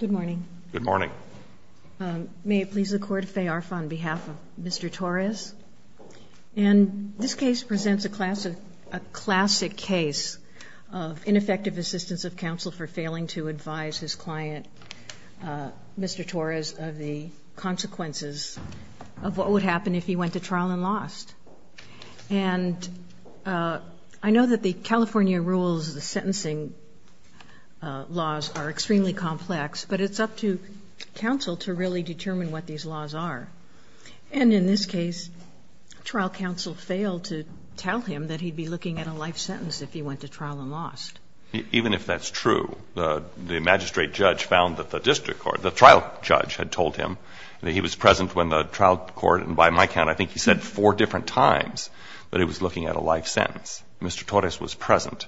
Good morning. Good morning. May it please the court, Faye Arf on behalf of Mr. Torres. And this case presents a classic case of ineffective assistance of counsel for failing to advise his client, Mr. Torres, of the consequences of what would happen if he went to trial and lost. And I know that the California rules, the sentencing laws are extremely complex, but it's up to counsel to really determine what these laws are. And in this case, trial counsel failed to tell him that he'd be looking at a life sentence if he went to trial and lost. Even if that's true, the magistrate judge found that the district court, the trial judge had told him that he was present when the trial court, and by my count, I think he said four different times that he was looking at a life sentence. Mr. Torres was present.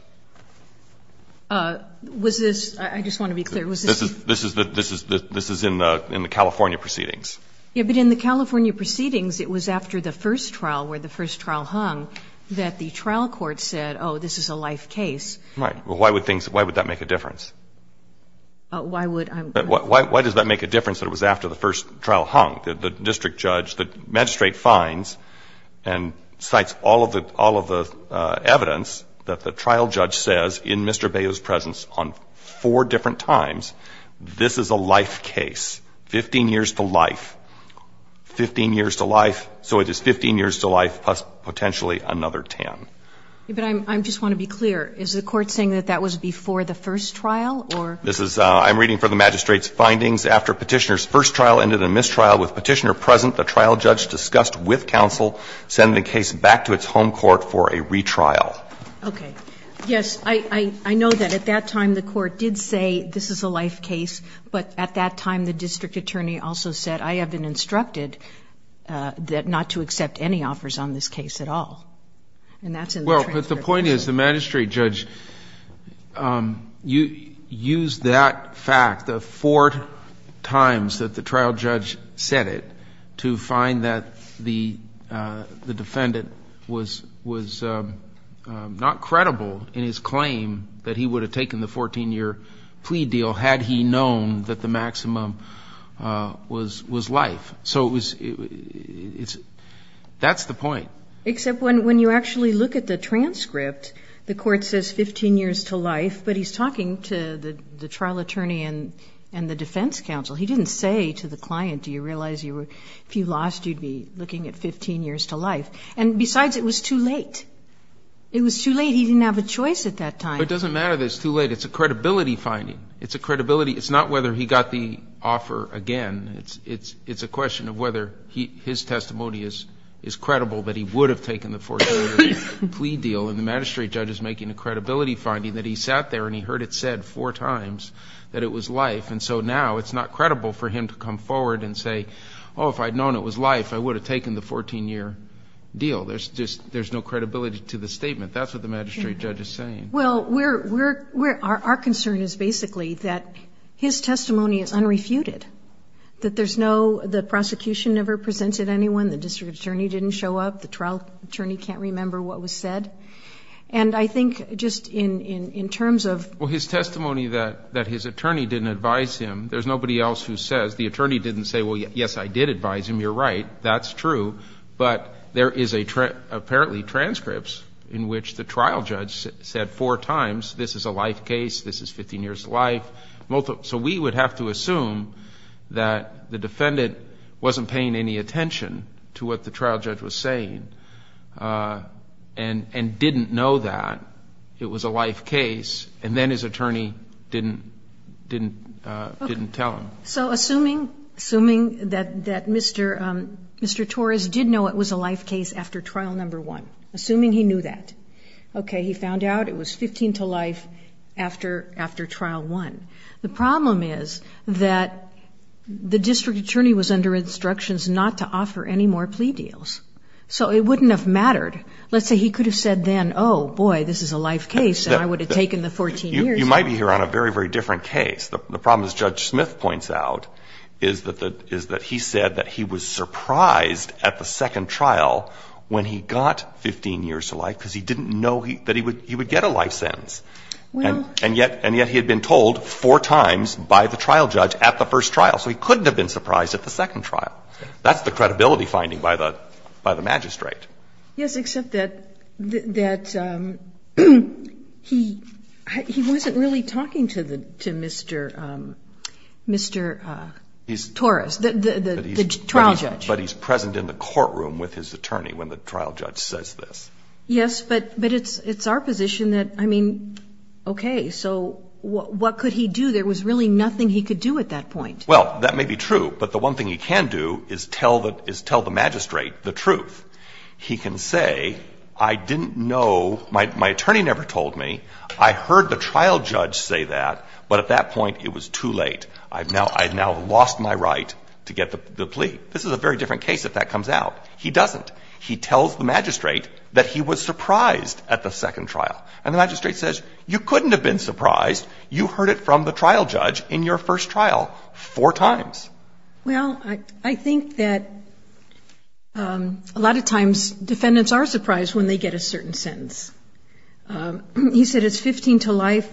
Was this, I just want to be clear, was this? This is in the California proceedings. Yes, but in the California proceedings, it was after the first trial, where the first trial hung, that the trial court said, oh, this is a life case. Right. Well, why would that make a difference? Why would I? Why does that make a difference that it was after the first trial hung? The district judge, the magistrate finds and cites all of the evidence that the trial judge says in Mr. Beyo's presence on four different times, this is a life case, 15 years to life, 15 years to life, so it is 15 years to life plus potentially another 10. But I just want to be clear. Is the court saying that that was before the first trial or? This is, I'm reading for the magistrate's findings. After Petitioner's first trial ended in mistrial, with Petitioner present, the trial judge discussed with counsel sending the case back to its home court for a retrial. Okay. Yes, I know that at that time the court did say this is a life case, but at that time the district attorney also said I have been instructed that not to accept any offers on this case at all. And that's in the transcript. But the point is, the magistrate judge used that fact, the four times that the trial judge said it, to find that the defendant was not credible in his claim that he would have taken the 14-year plea deal had he known that the maximum was life. So it was, it's, that's the point. Except when you actually look at the transcript, the court says 15 years to life, but he's talking to the trial attorney and the defense counsel. He didn't say to the client, do you realize you were, if you lost, you'd be looking at 15 years to life. And besides, it was too late. It was too late. He didn't have a choice at that time. But it doesn't matter that it's too late. It's a credibility finding. It's a credibility. It's not whether he got the offer again. It's a question of whether his testimony is credible that he would have taken the 14-year plea deal. And the magistrate judge is making a credibility finding that he sat there and he heard it said four times that it was life. And so now it's not credible for him to come forward and say, oh, if I'd known it was life, I would have taken the 14-year deal. There's just, there's no credibility to the statement. That's what the magistrate judge is saying. Well, we're, we're, we're, our concern is basically that his testimony is unrefuted. That there's no, the prosecution never presented anyone. The district attorney didn't show up. The trial attorney can't remember what was said. And I think just in, in, in terms of. Well, his testimony that, that his attorney didn't advise him, there's nobody else who says, the attorney didn't say, well, yes, I did advise him. You're right. That's true. But there is a, apparently transcripts in which the trial judge said four times, this is a life case, this is 15 years of life, multiple. So we would have to assume that the defendant wasn't paying any attention to what the trial judge was saying and, and didn't know that it was a life case. And then his attorney didn't, didn't, didn't tell him. So assuming, assuming that, that Mr., Mr. Torres did know it was a life case after trial number one, assuming he knew that. Okay. He found out it was 15 to life after, after trial one. The problem is that the district attorney was under instructions not to offer any more plea deals. So it wouldn't have mattered. Let's say he could have said then, oh, boy, this is a life case and I would have taken the 14 years. You might be here on a very, very different case. The problem, as Judge Smith points out, is that the, is that he said that he was surprised at the second trial when he got 15 years to life because he didn't know that he would, he would get a life sentence. Well. And yet, and yet he had been told four times by the trial judge at the first trial. So he couldn't have been surprised at the second trial. That's the credibility finding by the, by the magistrate. Yes, except that, that he, he wasn't really talking to the, to Mr., Mr. Torres, the, the trial judge. But he's present in the courtroom with his attorney when the trial judge says this. Yes, but, but it's, it's our position that, I mean, okay. So what, what could he do? There was really nothing he could do at that point. Well, that may be true. But the one thing he can do is tell the, is tell the magistrate the truth. He can say, I didn't know, my, my attorney never told me. I heard the trial judge say that. But at that point, it was too late. I've now, I've now lost my right to get the, the plea. This is a very different case if that comes out. He doesn't. He tells the magistrate that he was surprised at the second trial. And the magistrate says, you couldn't have been surprised. You heard it from the trial judge in your first trial four times. Well, I, I think that a lot of times defendants are surprised when they get a certain sentence. He said it's 15 to life.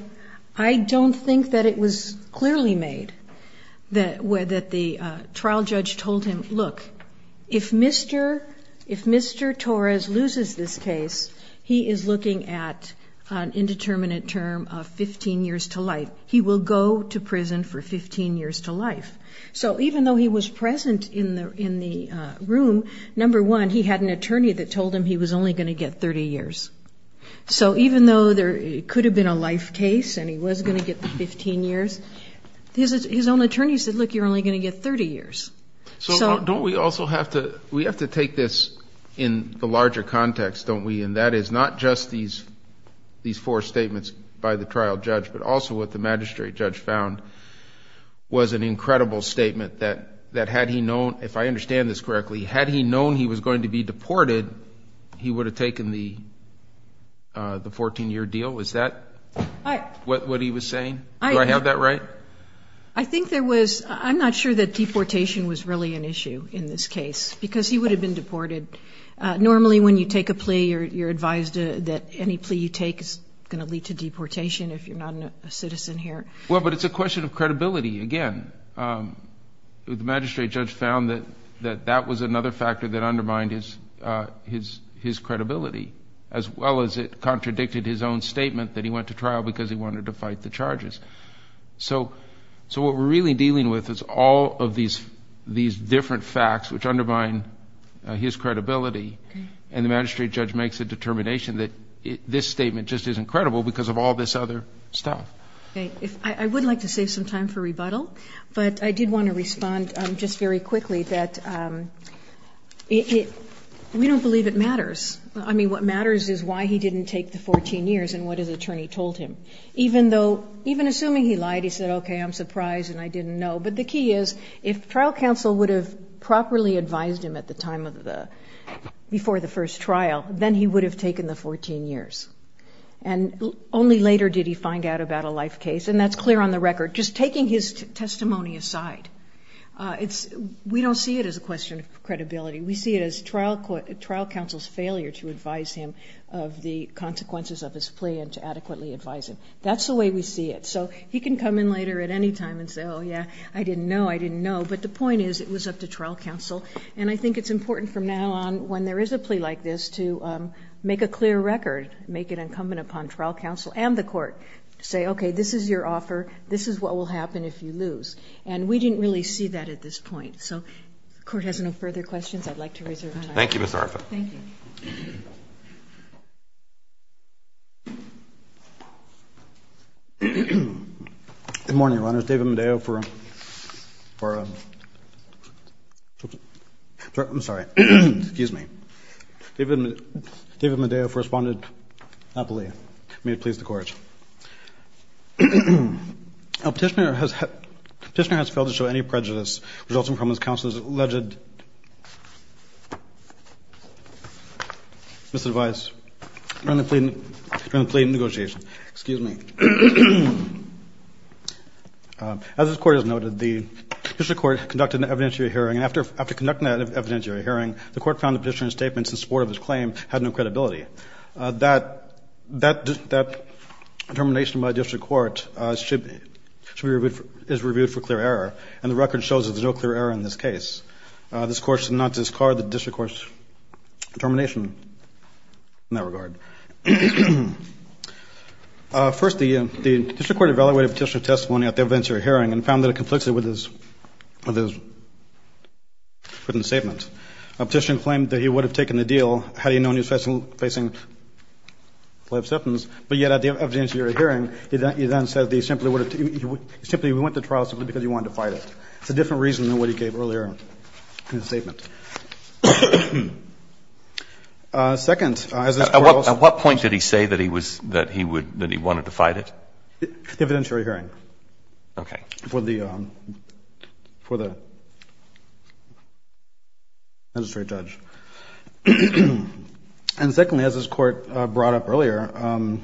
I don't think that it was clearly made that, that the trial judge told him, look, if Mr., if Mr. Torres loses this case, he is looking at an indeterminate term of 15 years to life. He will go to prison for 15 years to life. So even though he was present in the, in the room, number one, he had an attorney that told him he was only going to get 30 years. So even though there could have been a life case and he was going to get 15 years, his, his own attorney said, look, you're only going to get 30 years. So don't we also have to, we have to take this in the larger context, don't we? And that is not just these, these four statements by the trial judge, but also what the magistrate judge found was an incredible statement that, that had he known, if I understand this correctly, had he known he was going to be deported, he would have taken the, the 14 year deal. Is that what he was saying? Do I have that right? I think there was, I'm not sure that deportation was really an issue in this case because he would have been deported. Normally when you take a plea or you're advised that any plea you take is going to lead to deportation, if you're not a citizen here. Well, but it's a question of credibility. Again, the magistrate judge found that, that that was another factor that undermined his his, his credibility as well as it contradicted his own statement that he went to trial because he wanted to fight the charges. So, so what we're really dealing with is all of these, these different facts, which undermine his credibility. And the magistrate judge makes a determination that this statement just isn't credible because of all this other stuff. Okay. If I would like to save some time for rebuttal, but I did want to respond just very quickly that it, we don't believe it matters. I mean, what matters is why he didn't take the 14 years and what his attorney told him, even though, even assuming he lied, he said, okay, I'm surprised and I didn't know. But the key is if trial counsel would have properly advised him at the time of the, before the first trial, then he would have taken the 14 years. And only later did he find out about a life case. And that's clear on the record, just taking his testimony aside it's we don't see it as a question of credibility. We see it as trial court trial counsel's failure to advise him of the consequences of his plea and to adequately advise him. That's the way we see it. So he can come in later at any time and say, oh yeah, I didn't know. I didn't know. But the point is it was up to trial counsel. And I think it's important from now on when there is a plea like this to make a clear record, make it incumbent upon trial counsel and the court to say, okay, this is your offer. This is what will happen if you lose. And we didn't really see that at this point. So if the court has no further questions, I'd like to reserve the time. Thank you, Ms. Arfa. Thank you. Good morning, David Medeo for, for, I'm sorry. Excuse me. David, David Medeo for responded happily. May it please the court. Petitioner has, petitioner has failed to show any prejudice resulting from his counsel's alleged misadvice during the plea, during the plea negotiation. Excuse me. As this court has noted, the district court conducted an evidentiary hearing. And after, after conducting that evidentiary hearing, the court found the petitioner's statements in support of his claim had no credibility. That, that, that determination by district court should be, should be reviewed for, is reviewed for clear error. And the record shows that there's no clear error in this case. This court should not discard the district court's determination in that regard. First, the district court evaluated petitioner's testimony at the evidentiary hearing and found that it conflicts with his, with his written statement. A petitioner claimed that he would have taken the deal had he known he was facing life sentence. But yet at the evidentiary hearing, he then said that he simply would have, he simply went to trial simply because he wanted to fight it. It's a different reason than what he gave earlier in his statement. Second, as this court also. At what point did he say that he was, that he would, that he wanted to fight it? The evidentiary hearing. Okay. For the, for the, for the magistrate judge. And secondly, as this court brought up earlier,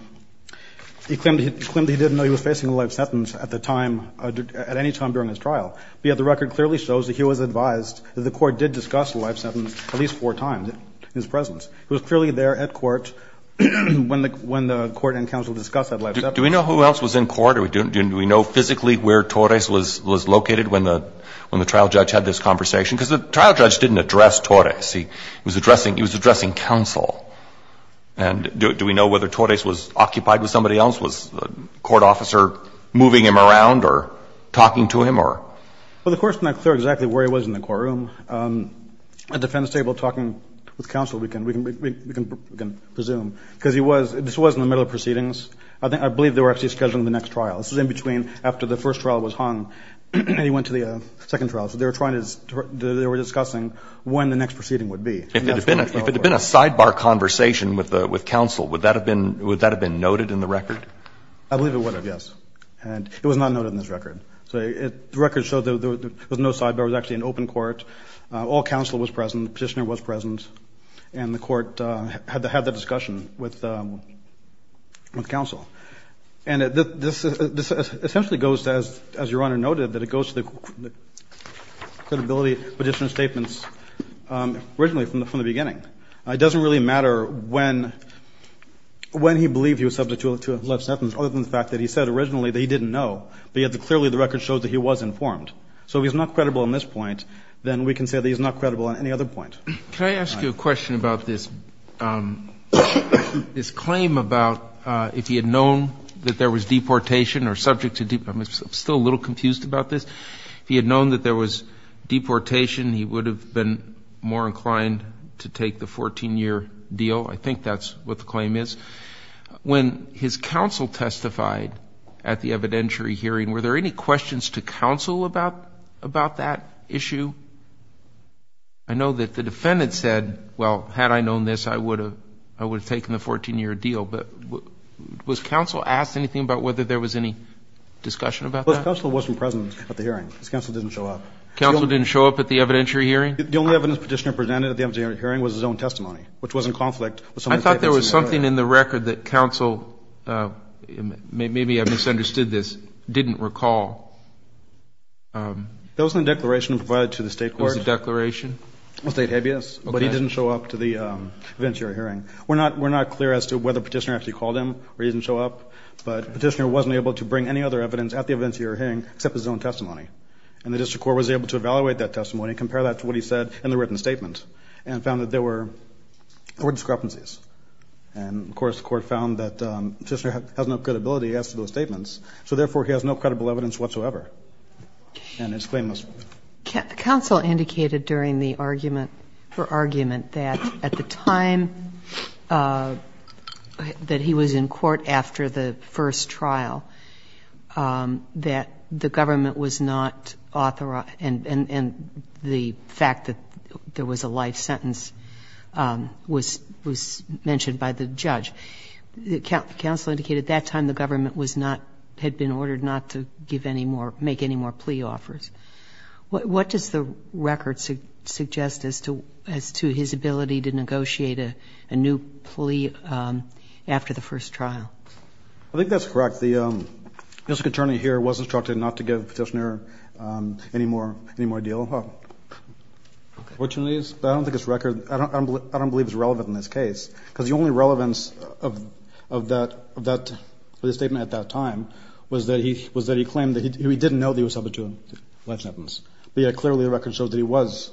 he claimed he, claimed he didn't know he was facing a life sentence at the time, at any time during his trial. But yet the record clearly shows that he was advised, that the court did discuss the life sentence at least four times in his presence. It was clearly there at court when the, when the court and counsel discussed that life sentence. Do we know who else was in court? Do we know physically where Torres was, was located when the, when the trial judge had this conversation? Because the trial judge didn't address Torres. He was addressing, he was addressing counsel. And do, do we know whether Torres was occupied with somebody else? Was the court officer moving him around or talking to him or? Well, the court's not clear exactly where he was in the courtroom. At the defense table talking with counsel, we can, we can, we can presume. Because he was, this was in the middle of proceedings. I think, I believe they were actually scheduling the next trial. This was in between, after the first trial was hung, and he went to the second trial. So they were trying to, they were discussing when the next proceeding would be. If it had been, if it had been a sidebar conversation with the, with counsel, would that have been, would that have been noted in the record? I believe it would have, yes. And it was not noted in this record. So it, the record showed there was no sidebar. It was actually an open court. All counsel was present. Petitioner was present. And the court had the, had the discussion with, with counsel. And this, this essentially goes to, as Your Honor noted, that it goes to the credibility petitioner's statements originally, from the beginning. It doesn't really matter when, when he believed he was subject to a left sentence, other than the fact that he said originally that he didn't know. But yet, clearly the record shows that he was informed. So if he's not credible on this point, then we can say that he's not credible on any other point. Can I ask you a question about this, this claim about if he had known that there was deportation or subject to, I'm still a little confused about this. If he had known that there was deportation, he would have been more inclined to take the 14-year deal. I think that's what the claim is. When his counsel testified at the evidentiary hearing, were there any questions to counsel about, about that issue? I know that the defendant said, well, had I known this I would have, I would have taken the 14-year deal. But was counsel asked anything about whether there was any discussion about that? Counsel wasn't present at the hearing. His counsel didn't show up. Counsel didn't show up at the evidentiary hearing? The only evidence petitioner presented at the evidentiary hearing was his own testimony, which was in conflict with some of the statements in the record. I thought there was something in the record that counsel, maybe I misunderstood this, didn't recall. There was a declaration provided to the state court. It was a declaration? State habeas. Okay. But he didn't show up to the evidentiary hearing. We're not, we're not clear as to whether petitioner actually called him or he didn't show up. But petitioner wasn't able to bring any other evidence at the evidentiary hearing, except his own testimony. And the district court was able to evaluate that testimony, compare that to what he said in the written statement, were discrepancies. And of course the court found that petitioner has no credibility as to those statements. So therefore, he has no credible evidence whatsoever. And it's claimless. Counsel indicated during the argument, her argument that at the time that he was in court after the first trial, that the government was not authorized. And the fact that there was a life sentence was mentioned by the judge. Counsel indicated at that time the government was not, had been ordered not to give any more, make any more plea offers. What does the record suggest as to, as to his ability to negotiate a new plea after the first trial? I think that's correct. The district attorney here was instructed not to give petitioner any more, any more deal. Which one is? I don't think it's record. I don't believe it's relevant in this case. Because the only relevance of that, of that statement at that time was that he, was that he claimed that he didn't know that he was subject to a life sentence. But yet clearly the record shows that he was,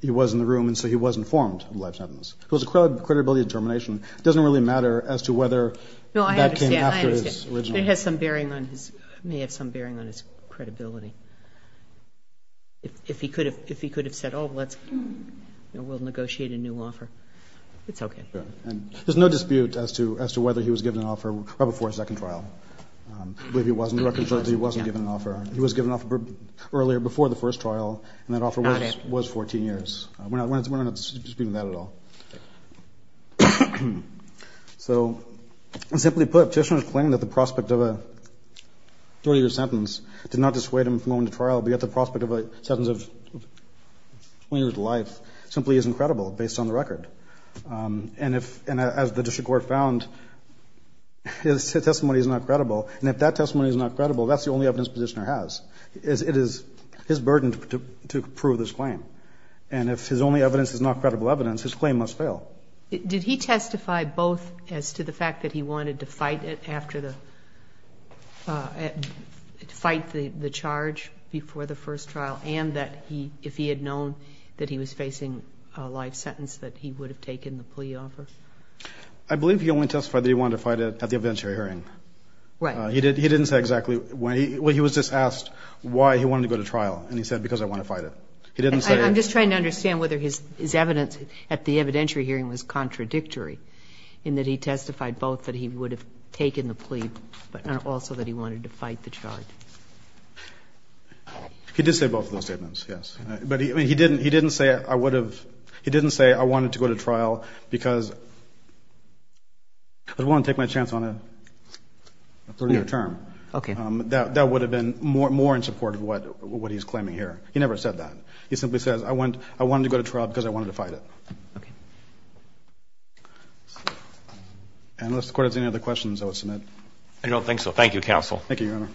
he was in the room and so he was informed of the life sentence. It was a credibility determination. It doesn't really matter as to whether that came after his original. No, I understand. It has some bearing on his, may have some bearing on his credibility. If he could have, if he could have said, oh, let's, we'll negotiate a new offer, it's okay. And there's no dispute as to, as to whether he was given an offer right before his second trial. I believe he wasn't. The record shows he wasn't given an offer. He was given an offer earlier, before the first trial. And that offer was 14 years. We're not, we're not disputing that at all. So, simply put, petitioner claimed that the prospect of a 30-year sentence did not dissuade him from going to trial, but yet the prospect of a sentence of 20 years to life simply is incredible based on the record. And if, and as the district court found, his testimony is not credible. And if that testimony is not credible, that's the only evidence petitioner has. It is his burden to prove this claim. And if his only evidence is not credible evidence, his claim must fail. Did he testify both as to the fact that he wanted to fight it after the, fight the charge before the first trial and that he, if he had known that he was facing a life sentence, that he would have taken the plea offer? I believe he only testified that he wanted to fight it at the evidentiary hearing. Right. He didn't, he didn't say exactly when he, when he was just asked why he wanted to go to trial and he said, because I want to fight it. He didn't say. I'm just trying to understand whether his, his evidence at the evidentiary hearing was contradictory in that he testified both that he would have taken the plea, but also that he wanted to fight the charge. He did say both of those statements. Yes. But he, I mean, he didn't, he didn't say I would have, he didn't say I wanted to go to trial because I don't want to take my chance on a 30 year term. Okay. That, that would have been more, more in support of what, what he's claiming here. He never said that. He simply says, I went, I wanted to go to trial because I wanted to fight it. Okay. And unless the court has any other questions, I will submit. I don't think so. Thank you, counsel. Thank you, Your Honor.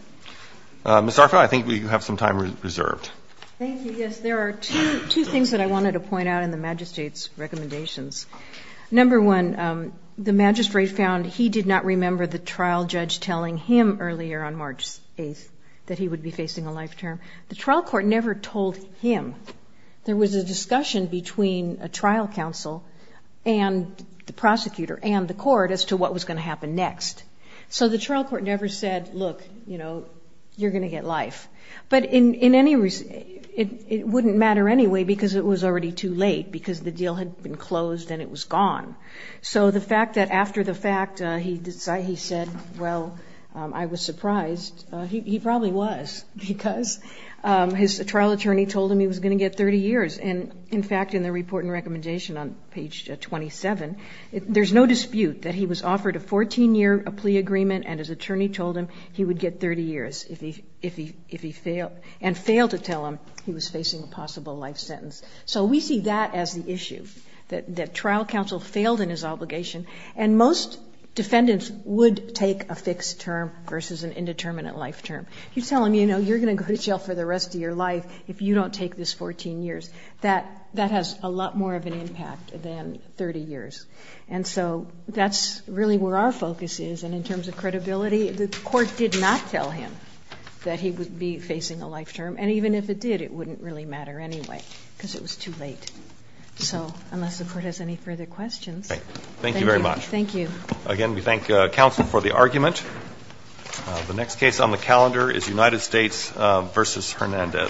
Mr. Arfan, I think we have some time reserved. Thank you. Yes, there are two, two things that I wanted to point out in the magistrate's recommendations. Number one, the magistrate found he did not remember the trial judge telling him earlier on March 8th that he would be facing a life term. The trial court never told him. There was a discussion between a trial counsel and the prosecutor and the court as to what was going to happen next. So the trial court never said, look, you know, you're going to get life. But in any, it wouldn't matter anyway because it was already too late because the deal had been closed and it was gone. So the fact that after the fact, he said, well, I was surprised. He probably was because his trial attorney told him he was going to get 30 years. And, in fact, in the report and recommendation on page 27, there's no dispute that he was offered a 14-year plea agreement, and his attorney told him he would get 30 years if he failed, and failed to tell him he was facing a possible life sentence. So we see that as the issue, that trial counsel failed in his obligation. And most defendants would take a fixed term versus an indeterminate life term. You tell them, you know, you're going to go to jail for the rest of your life if you don't take this 14 years. That has a lot more of an impact than 30 years. And so that's really where our focus is. And in terms of credibility, the Court did not tell him that he would be facing a life term. And even if it did, it wouldn't really matter anyway because it was too late. So unless the Court has any further questions. Thank you very much. Thank you. Again, we thank counsel for the argument. The next case on the calendar is United States v. Hernandez.